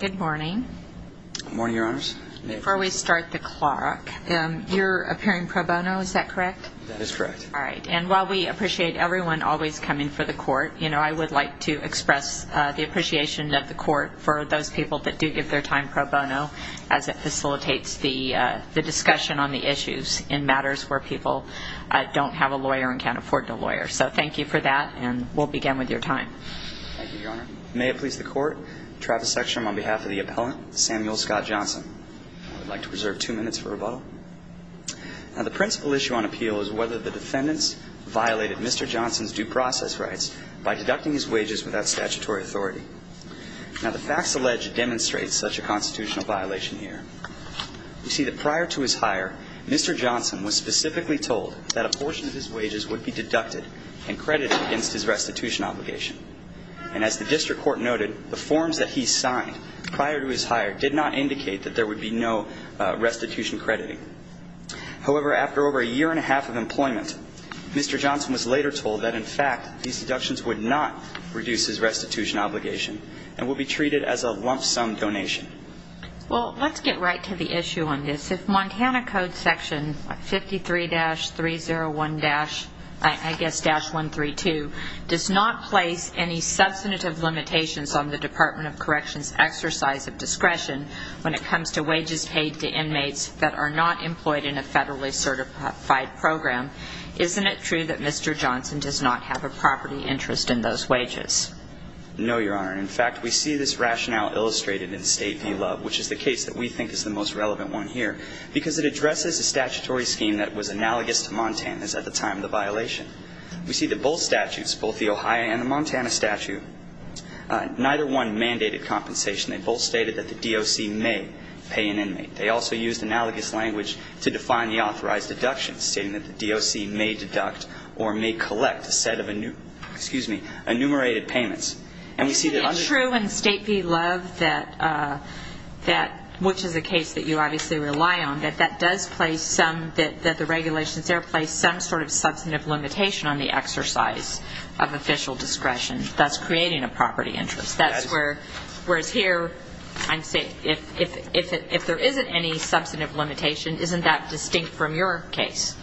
Good morning. Good morning, Your Honors. Before we start the clock, you're appearing pro bono, is that correct? That is correct. All right, and while we appreciate everyone always coming for the court, I would like to express the appreciation of the court for those people that do give their time pro bono as it facilitates the discussion on the issues in matters where people don't have a lawyer and can't afford a lawyer. So thank you for that, and we'll begin with your time. Thank you, Your Honor. May it please the court, Travis Sextrom on behalf of the appellant, Samuel Scott Johnson. I would like to reserve two minutes for rebuttal. Now, the principal issue on appeal is whether the defendants violated Mr. Johnson's due process rights by deducting his wages without statutory authority. Now, the facts alleged demonstrate such a constitutional violation here. You see that prior to his hire, Mr. Johnson was specifically told that a portion of his wages would be deducted and credited against his restitution obligation. And as the district court noted, the forms that he signed prior to his hire did not indicate that there would be no restitution crediting. However, after over a year and a half of employment, Mr. Johnson was later told that, in fact, these deductions would not reduce his restitution obligation and would be treated as a lump sum donation. Well, let's get right to the issue on this. If Montana Code Section 53-301-132 does not place any substantive limitations on the Department of Corrections' exercise of discretion when it comes to wages paid to inmates that are not employed in a federally certified program, isn't it true that Mr. Johnson does not have a property interest in those wages? No, Your Honor. In fact, we see this rationale illustrated in State v. Love, which is the case that we think is the most relevant one here, because it addresses a statutory scheme that was analogous to Montana's at the time of the violation. We see that both statutes, both the Ohio and the Montana statute, neither one mandated compensation. They both stated that the DOC may pay an inmate. They also used analogous language to define the authorized deduction, stating that the DOC may deduct or may collect a set of enumerated payments. Isn't it true in State v. Love, which is a case that you obviously rely on, that the regulations there place some sort of substantive limitation on the exercise of official discretion, thus creating a property interest? Whereas here, if there isn't any substantive limitation, isn't that distinct from your case?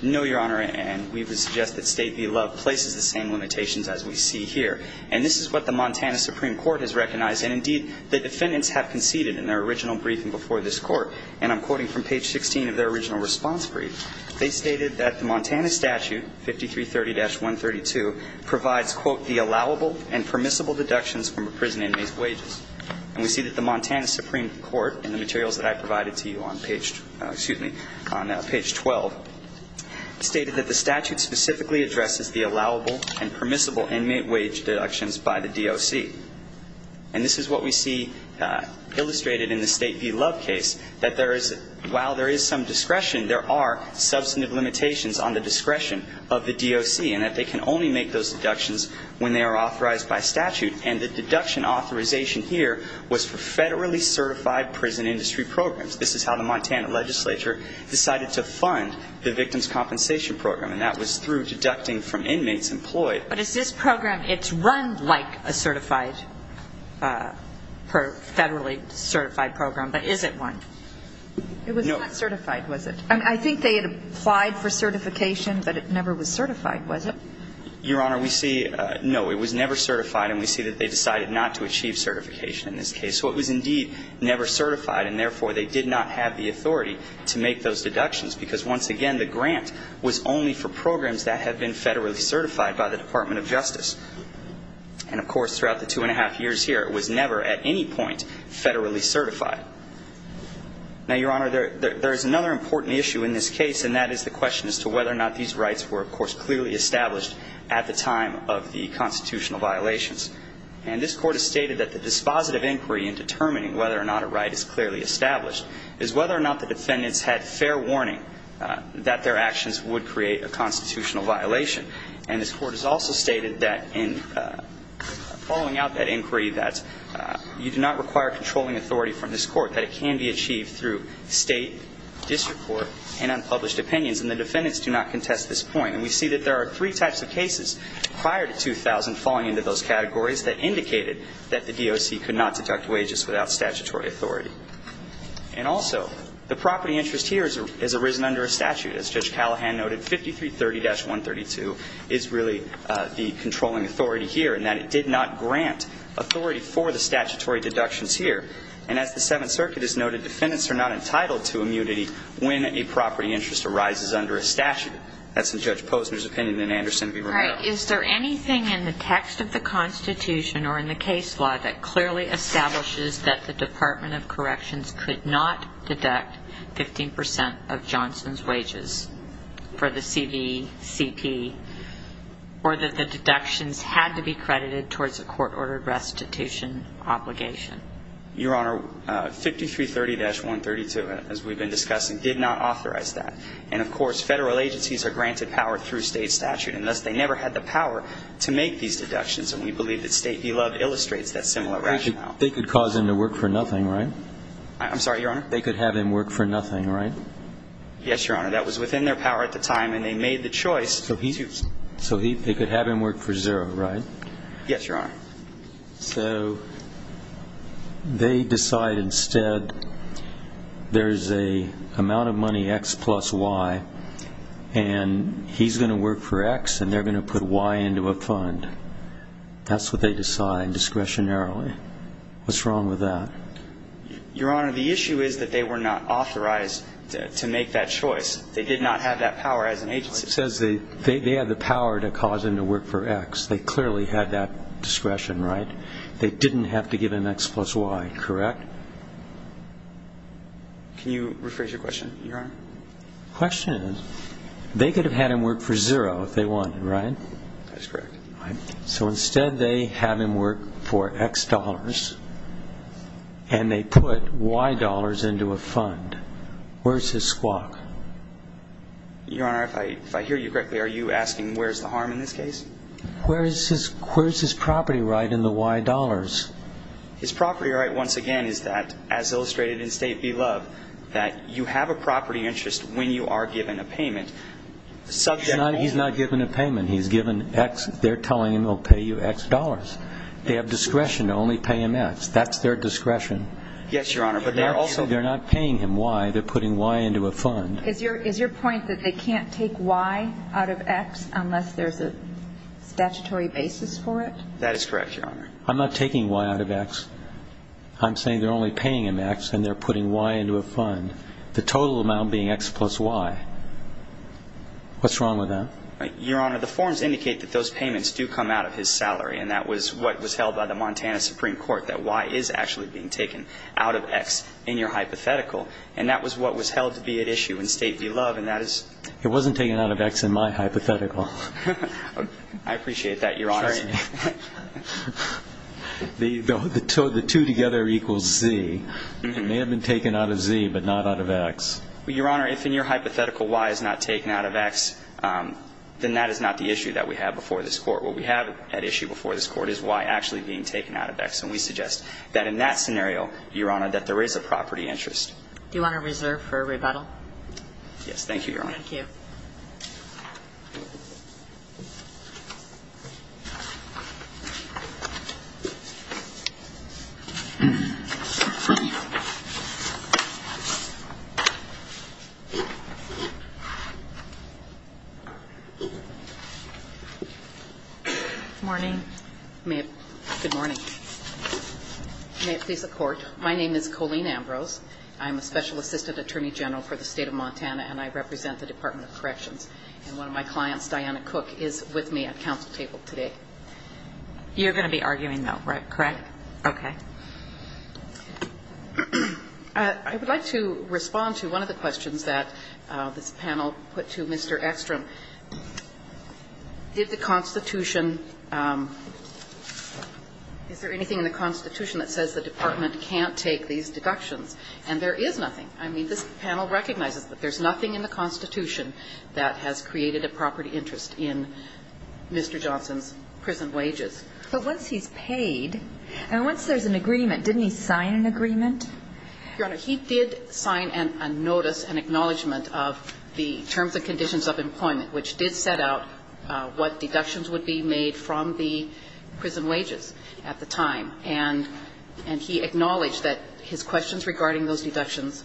No, Your Honor, and we would suggest that State v. Love places the same limitations as we see here. And this is what the Montana Supreme Court has recognized, and indeed the defendants have conceded in their original briefing before this Court. And I'm quoting from page 16 of their original response brief. They stated that the Montana statute, 5330-132, provides, quote, the allowable and permissible deductions from imprisoned inmates' wages. And we see that the Montana Supreme Court, in the materials that I provided to you on page 12, stated that the statute specifically addresses the allowable and permissible inmate wage deductions by the DOC. And this is what we see illustrated in the State v. Love case, that while there is some discretion, there are substantive limitations on the discretion of the DOC, and that they can only make those deductions when they are authorized by statute. And the deduction authorization here was for federally certified prison industry programs. This is how the Montana legislature decided to fund the victim's compensation program, and that was through deducting from inmates employed. But is this program, it's run like a certified, federally certified program, but is it one? No. It was not certified, was it? I think they had applied for certification, but it never was certified, was it? Your Honor, we see, no, it was never certified, and we see that they decided not to achieve certification in this case. So it was, indeed, never certified, and, therefore, they did not have the authority to make those deductions, because, once again, the grant was only for programs that had been federally certified by the Department of Justice. And, of course, throughout the two and a half years here, it was never, at any point, federally certified. Now, Your Honor, there is another important issue in this case, and that is the question as to whether or not these rights were, of course, clearly established at the time of the constitutional violations. And this Court has stated that the dispositive inquiry in determining whether or not a right is clearly established is whether or not the defendants had fair warning that their actions would create a constitutional violation. And this Court has also stated that, in following out that inquiry, that you do not require controlling authority from this Court, that it can be achieved through state, district court, and unpublished opinions, and the defendants do not contest this point. And we see that there are three types of cases prior to 2000 falling into those categories that indicated that the DOC could not deduct wages without statutory authority. And, also, the property interest here has arisen under a statute. As Judge Callahan noted, 5330-132 is really the controlling authority here, and that it did not grant authority for the statutory deductions here. And, as the Seventh Circuit has noted, defendants are not entitled to immunity when a property interest arises under a statute. That's in Judge Posner's opinion, and in Anderson v. Romero. All right. Is there anything in the text of the Constitution or in the case law that clearly establishes that the Department of Corrections could not deduct 15 percent of Johnson's wages for the CVCP, or that the deductions had to be credited towards a court-ordered restitution obligation? Your Honor, 5330-132, as we've been discussing, did not authorize that. And, of course, federal agencies are granted power through state statute, and thus they never had the power to make these deductions. And we believe that State Beloved illustrates that similar rationale. They could cause him to work for nothing, right? I'm sorry, Your Honor? They could have him work for nothing, right? Yes, Your Honor. That was within their power at the time, and they made the choice. So they could have him work for zero, right? Yes, Your Honor. So they decide instead there's an amount of money, X plus Y, and he's going to work for X and they're going to put Y into a fund. That's what they decide discretionarily. What's wrong with that? Your Honor, the issue is that they were not authorized to make that choice. They did not have that power as an agency. It says they had the power to cause him to work for X. They clearly had that discretion, right? They didn't have to give him X plus Y, correct? Can you rephrase your question, Your Honor? The question is they could have had him work for zero if they wanted, right? That's correct. So instead they have him work for X dollars, and they put Y dollars into a fund. Where's his squawk? Your Honor, if I hear you correctly, are you asking where's the harm in this case? Where's his property right in the Y dollars? His property right, once again, is that, as illustrated in State v. Love, that you have a property interest when you are given a payment. He's not given a payment. He's given X. They're telling him he'll pay you X dollars. They have discretion to only pay him X. That's their discretion. Yes, Your Honor. Also, they're not paying him Y. They're putting Y into a fund. Is your point that they can't take Y out of X unless there's a statutory basis for it? That is correct, Your Honor. I'm not taking Y out of X. I'm saying they're only paying him X, and they're putting Y into a fund, the total amount being X plus Y. What's wrong with that? Your Honor, the forms indicate that those payments do come out of his salary, and that was what was held by the Montana Supreme Court, that Y is actually being taken out of X in your hypothetical, and that was what was held to be at issue in State v. Love. It wasn't taken out of X in my hypothetical. I appreciate that, Your Honor. The two together equals Z. It may have been taken out of Z but not out of X. Your Honor, if in your hypothetical Y is not taken out of X, then that is not the issue that we have before this Court. What we have at issue before this Court is Y actually being taken out of X, and we suggest that in that scenario, Your Honor, that there is a property interest. Do you want to reserve for rebuttal? Thank you. Good morning. Good morning. May it please the Court, my name is Colleen Ambrose. I'm a Special Assistant Attorney General for the State of Montana, and I represent the Department of Corrections, and one of my clients, Diana Cook, is with me. Good morning. Good morning. I'm going to be arguing at the department council table today. You're going to be arguing, though, correct? Okay. I would like to respond to one of the questions that this panel put to Mr. Ekstrom. Did the Constitution – is there anything in the Constitution that says the department can't take these deductions? And there is nothing. I mean, this panel recognizes that there's nothing in the Constitution that has created a property interest in Mr. Johnson's prison wages. But once he's paid, and once there's an agreement, didn't he sign an agreement? Your Honor, he did sign a notice, an acknowledgment of the terms and conditions of employment, which did set out what deductions would be made from the prison wages at the time. And he acknowledged that his questions regarding those deductions,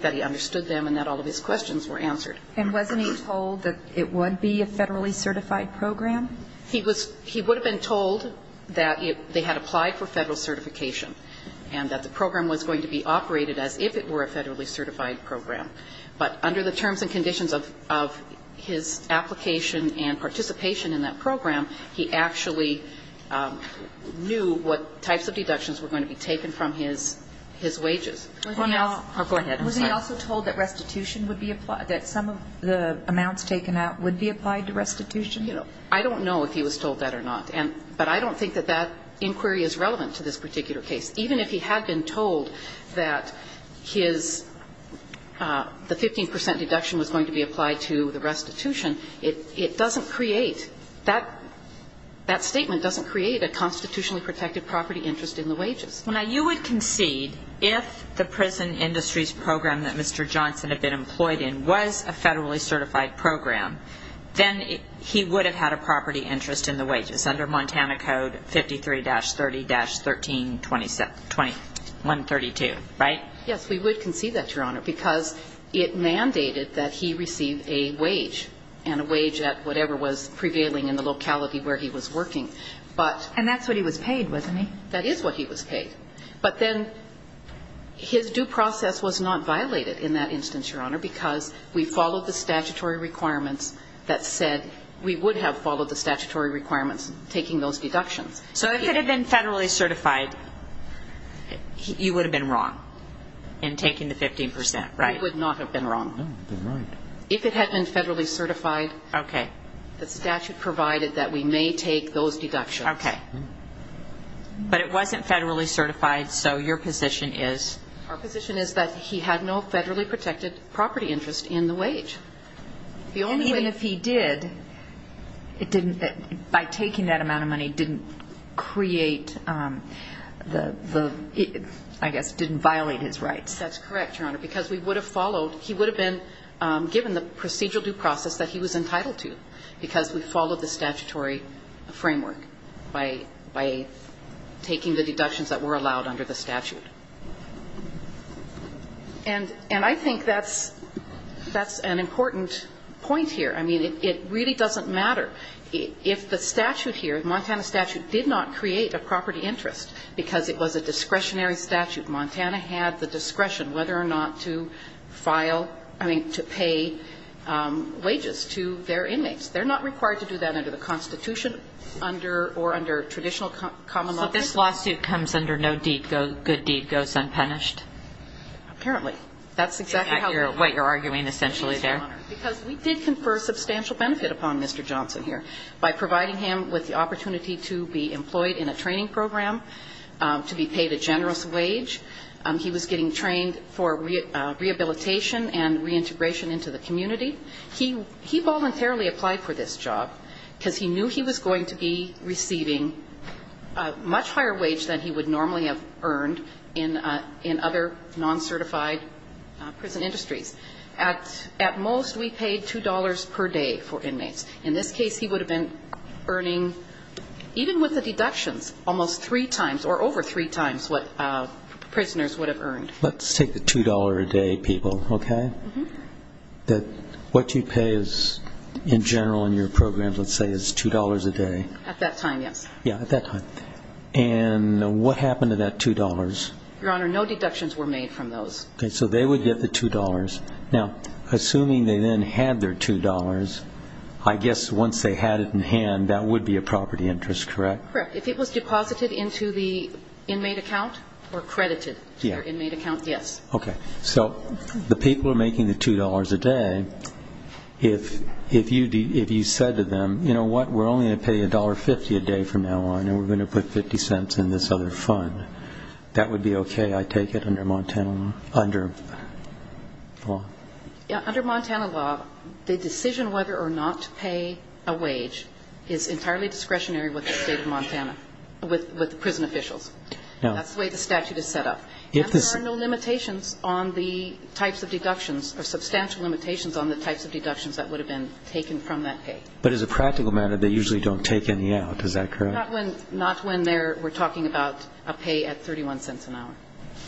that he understood them and that all of his questions were answered. And wasn't he told that it would be a federally certified program? He was – he would have been told that they had applied for federal certification and that the program was going to be operated as if it were a federally certified program. But under the terms and conditions of his application and participation in that program, he actually knew what types of deductions were going to be taken from his wages. Go ahead. I'm sorry. Was he also told that restitution would be applied, that some of the amounts taken out would be applied to restitution? I don't know if he was told that or not. But I don't think that that inquiry is relevant to this particular case. Even if he had been told that his – the 15 percent deduction was going to be applied to the restitution, it doesn't create – that statement doesn't create a constitutionally protected property interest in the wages. Now, you would concede if the prison industries program that Mr. Johnson had been employed in was a federally certified program, then he would have had a property interest in the wages under Montana Code 53-30-13-2132, right? Yes, we would concede that, Your Honor, because it mandated that he receive a wage and a wage at whatever was prevailing in the locality where he was working. But – And that's what he was paid, wasn't he? That is what he was paid. But then his due process was not violated in that instance, Your Honor, because we followed the statutory requirements that said we would have followed the statutory requirements taking those deductions. So if it had been federally certified, he would have been wrong in taking the 15 percent, right? He would not have been wrong. No, you're right. If it had been federally certified, the statute provided that we may take those deductions. Okay. But it wasn't federally certified, so your position is? Our position is that he had no federally protected property interest in the wage. And even if he did, it didn't – by taking that amount of money didn't create the – I guess didn't violate his rights. That's correct, Your Honor, because we would have followed – he would have been given the procedural due process that he was entitled to because we followed the taking the deductions that were allowed under the statute. And I think that's an important point here. I mean, it really doesn't matter if the statute here, the Montana statute, did not create a property interest because it was a discretionary statute. Montana had the discretion whether or not to file – I mean, to pay wages to their inmates. They're not required to do that under the Constitution or under traditional common law. So this lawsuit comes under no good deed goes unpunished? Apparently. That's exactly what you're arguing essentially there. Because we did confer substantial benefit upon Mr. Johnson here by providing him with the opportunity to be employed in a training program, to be paid a generous wage. He was getting trained for rehabilitation and reintegration into the community. He voluntarily applied for this job because he knew he was going to be receiving a much higher wage than he would normally have earned in other non-certified prison industries. At most, we paid $2 per day for inmates. In this case, he would have been earning, even with the deductions, almost three times or over three times what prisoners would have earned. Let's take the $2 a day, people, okay? What you pay in general in your programs, let's say, is $2 a day. At that time, yes. Yeah, at that time. And what happened to that $2? Your Honor, no deductions were made from those. Okay, so they would get the $2. Now, assuming they then had their $2, I guess once they had it in hand, that would be a property interest, correct? Correct. If it was deposited into the inmate account or credited to their inmate account, yes. Okay. So the people are making the $2 a day. If you said to them, you know what, we're only going to pay $1.50 a day from now on and we're going to put 50 cents in this other fund, that would be okay, I take it, under Montana law? Yeah, under Montana law, the decision whether or not to pay a wage is entirely discretionary with the state of Montana, with the prison officials. That's the way the statute is set up. And there are no limitations on the types of deductions, or substantial limitations, on the types of deductions that would have been taken from that pay. But as a practical matter, they usually don't take any out, is that correct? Not when we're talking about a pay at 31 cents an hour.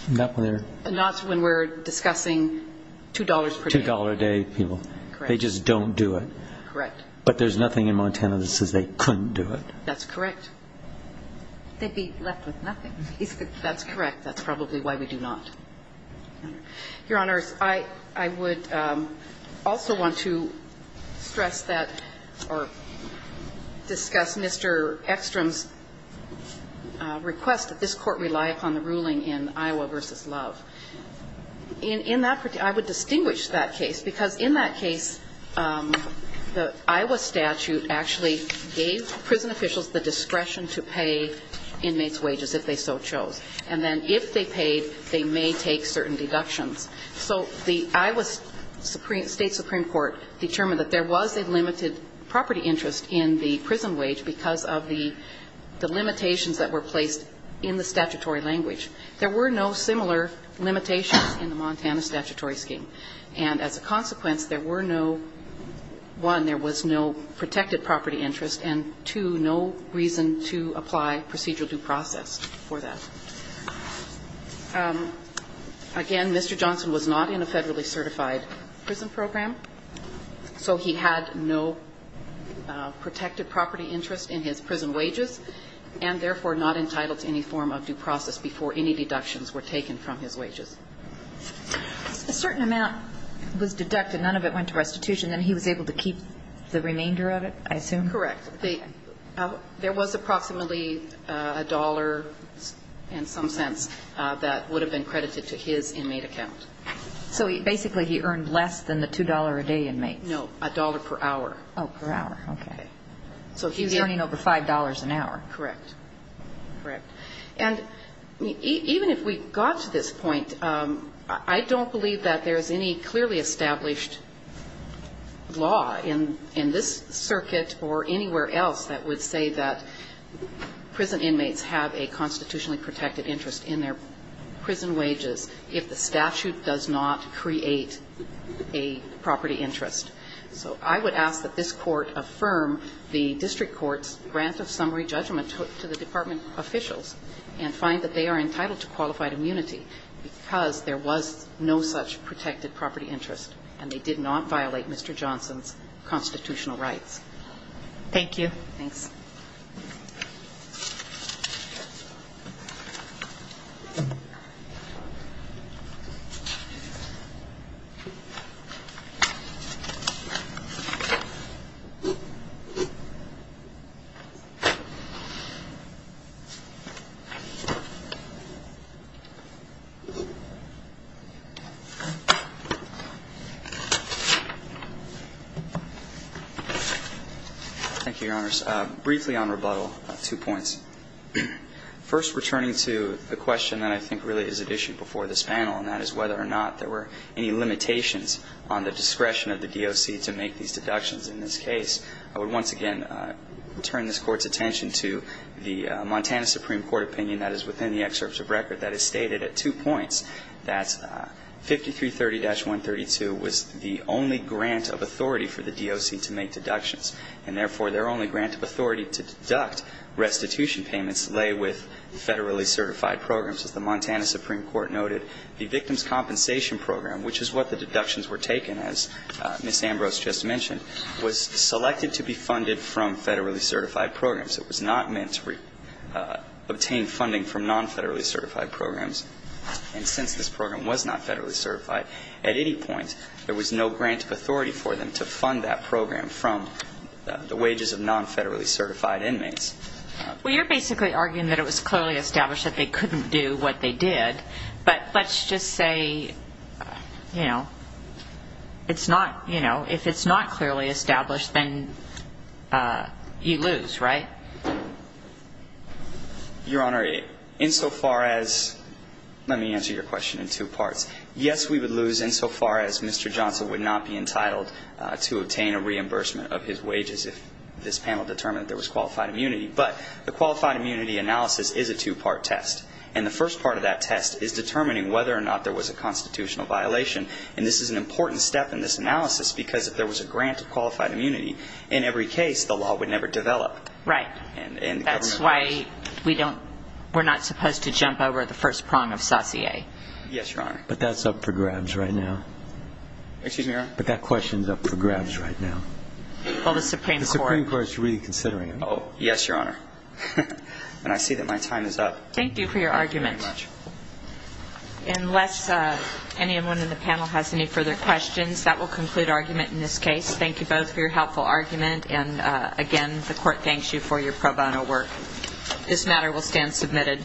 Not when we're discussing $2 per day. $2 a day. Correct. They just don't do it. Correct. But there's nothing in Montana that says they couldn't do it. That's correct. They'd be left with nothing. That's correct. That's probably why we do not. Your Honors, I would also want to stress that, or discuss Mr. Ekstrom's request that this Court rely upon the ruling in Iowa v. Love. In that, I would distinguish that case, because in that case, the Iowa statute actually gave prison officials the discretion to pay inmates' wages, if they so chose. And then if they paid, they may take certain deductions. So the Iowa State Supreme Court determined that there was a limited property interest in the prison wage because of the limitations that were placed in the statutory language. There were no similar limitations in the Montana statutory scheme. And as a consequence, there were no, one, there was no protected property interest, and two, no reason to apply procedural due process for that. Again, Mr. Johnson was not in a federally certified prison program, so he had no protected property interest in his prison wages, and therefore not entitled to any form of due process before any deductions were taken from his wages. A certain amount was deducted. None of it went to restitution. Then he was able to keep the remainder of it, I assume? Correct. There was approximately a dollar, in some sense, that would have been credited to his inmate account. So basically he earned less than the $2 a day inmates? No, a dollar per hour. Oh, per hour. Okay. So he was earning over $5 an hour. Correct. Correct. And even if we got to this point, I don't believe that there is any clearly established law in this circuit or anywhere else that would say that prison inmates have a constitutionally protected interest in their prison wages if the statute does not create a property interest. So I would ask that this Court affirm the district court's grant of summary judgment to the department officials and find that they are entitled to qualified immunity because there was no such protected property interest and they did not violate Mr. Johnson's constitutional rights. Thank you. Thanks. Thank you, Your Honors. Briefly on rebuttal, two points. First, returning to the question that I think really is at issue before this panel, and that is whether or not there were any limitations on the discretion of the DOC to make these deductions in this case, I would once again turn this Court's attention to the fact that the Montana Supreme Court opinion that is within the excerpts of record that is stated at two points, that 5330-132 was the only grant of authority for the DOC to make deductions, and therefore, their only grant of authority to deduct restitution payments lay with federally certified programs. As the Montana Supreme Court noted, the Victim's Compensation Program, which is what the deductions were taken, as Ms. Ambrose just mentioned, was selected to be funded from federally certified programs. It was not meant to obtain funding from non-federally certified programs. And since this program was not federally certified, at any point, there was no grant of authority for them to fund that program from the wages of non-federally certified inmates. Well, you're basically arguing that it was clearly established that they couldn't do what they did, but let's just say, you know, it's not, you know, if it's not clearly established, then you lose, right? Your Honor, insofar as, let me answer your question in two parts. Yes, we would lose insofar as Mr. Johnson would not be entitled to obtain a reimbursement of his wages if this panel determined that there was qualified immunity. But the qualified immunity analysis is a two-part test. And the first part of that test is determining whether or not there was a constitutional violation. And this is an important step in this analysis because if there was a grant of qualified immunity, in every case, the law would never develop. And the government would lose. That's why we don't, we're not supposed to jump over the first prong of saucier. Yes, Your Honor. But that's up for grabs right now. Excuse me, Your Honor? But that question's up for grabs right now. Well, the Supreme Court. The Supreme Court's really considering it. Oh, yes, Your Honor. And I see that my time is up. Thank you for your argument. Thank you very much. Unless anyone in the panel has any further questions, that will conclude argument in this case. Thank you both for your helpful argument. And, again, the Court thanks you for your pro bono work. This matter will stand submitted.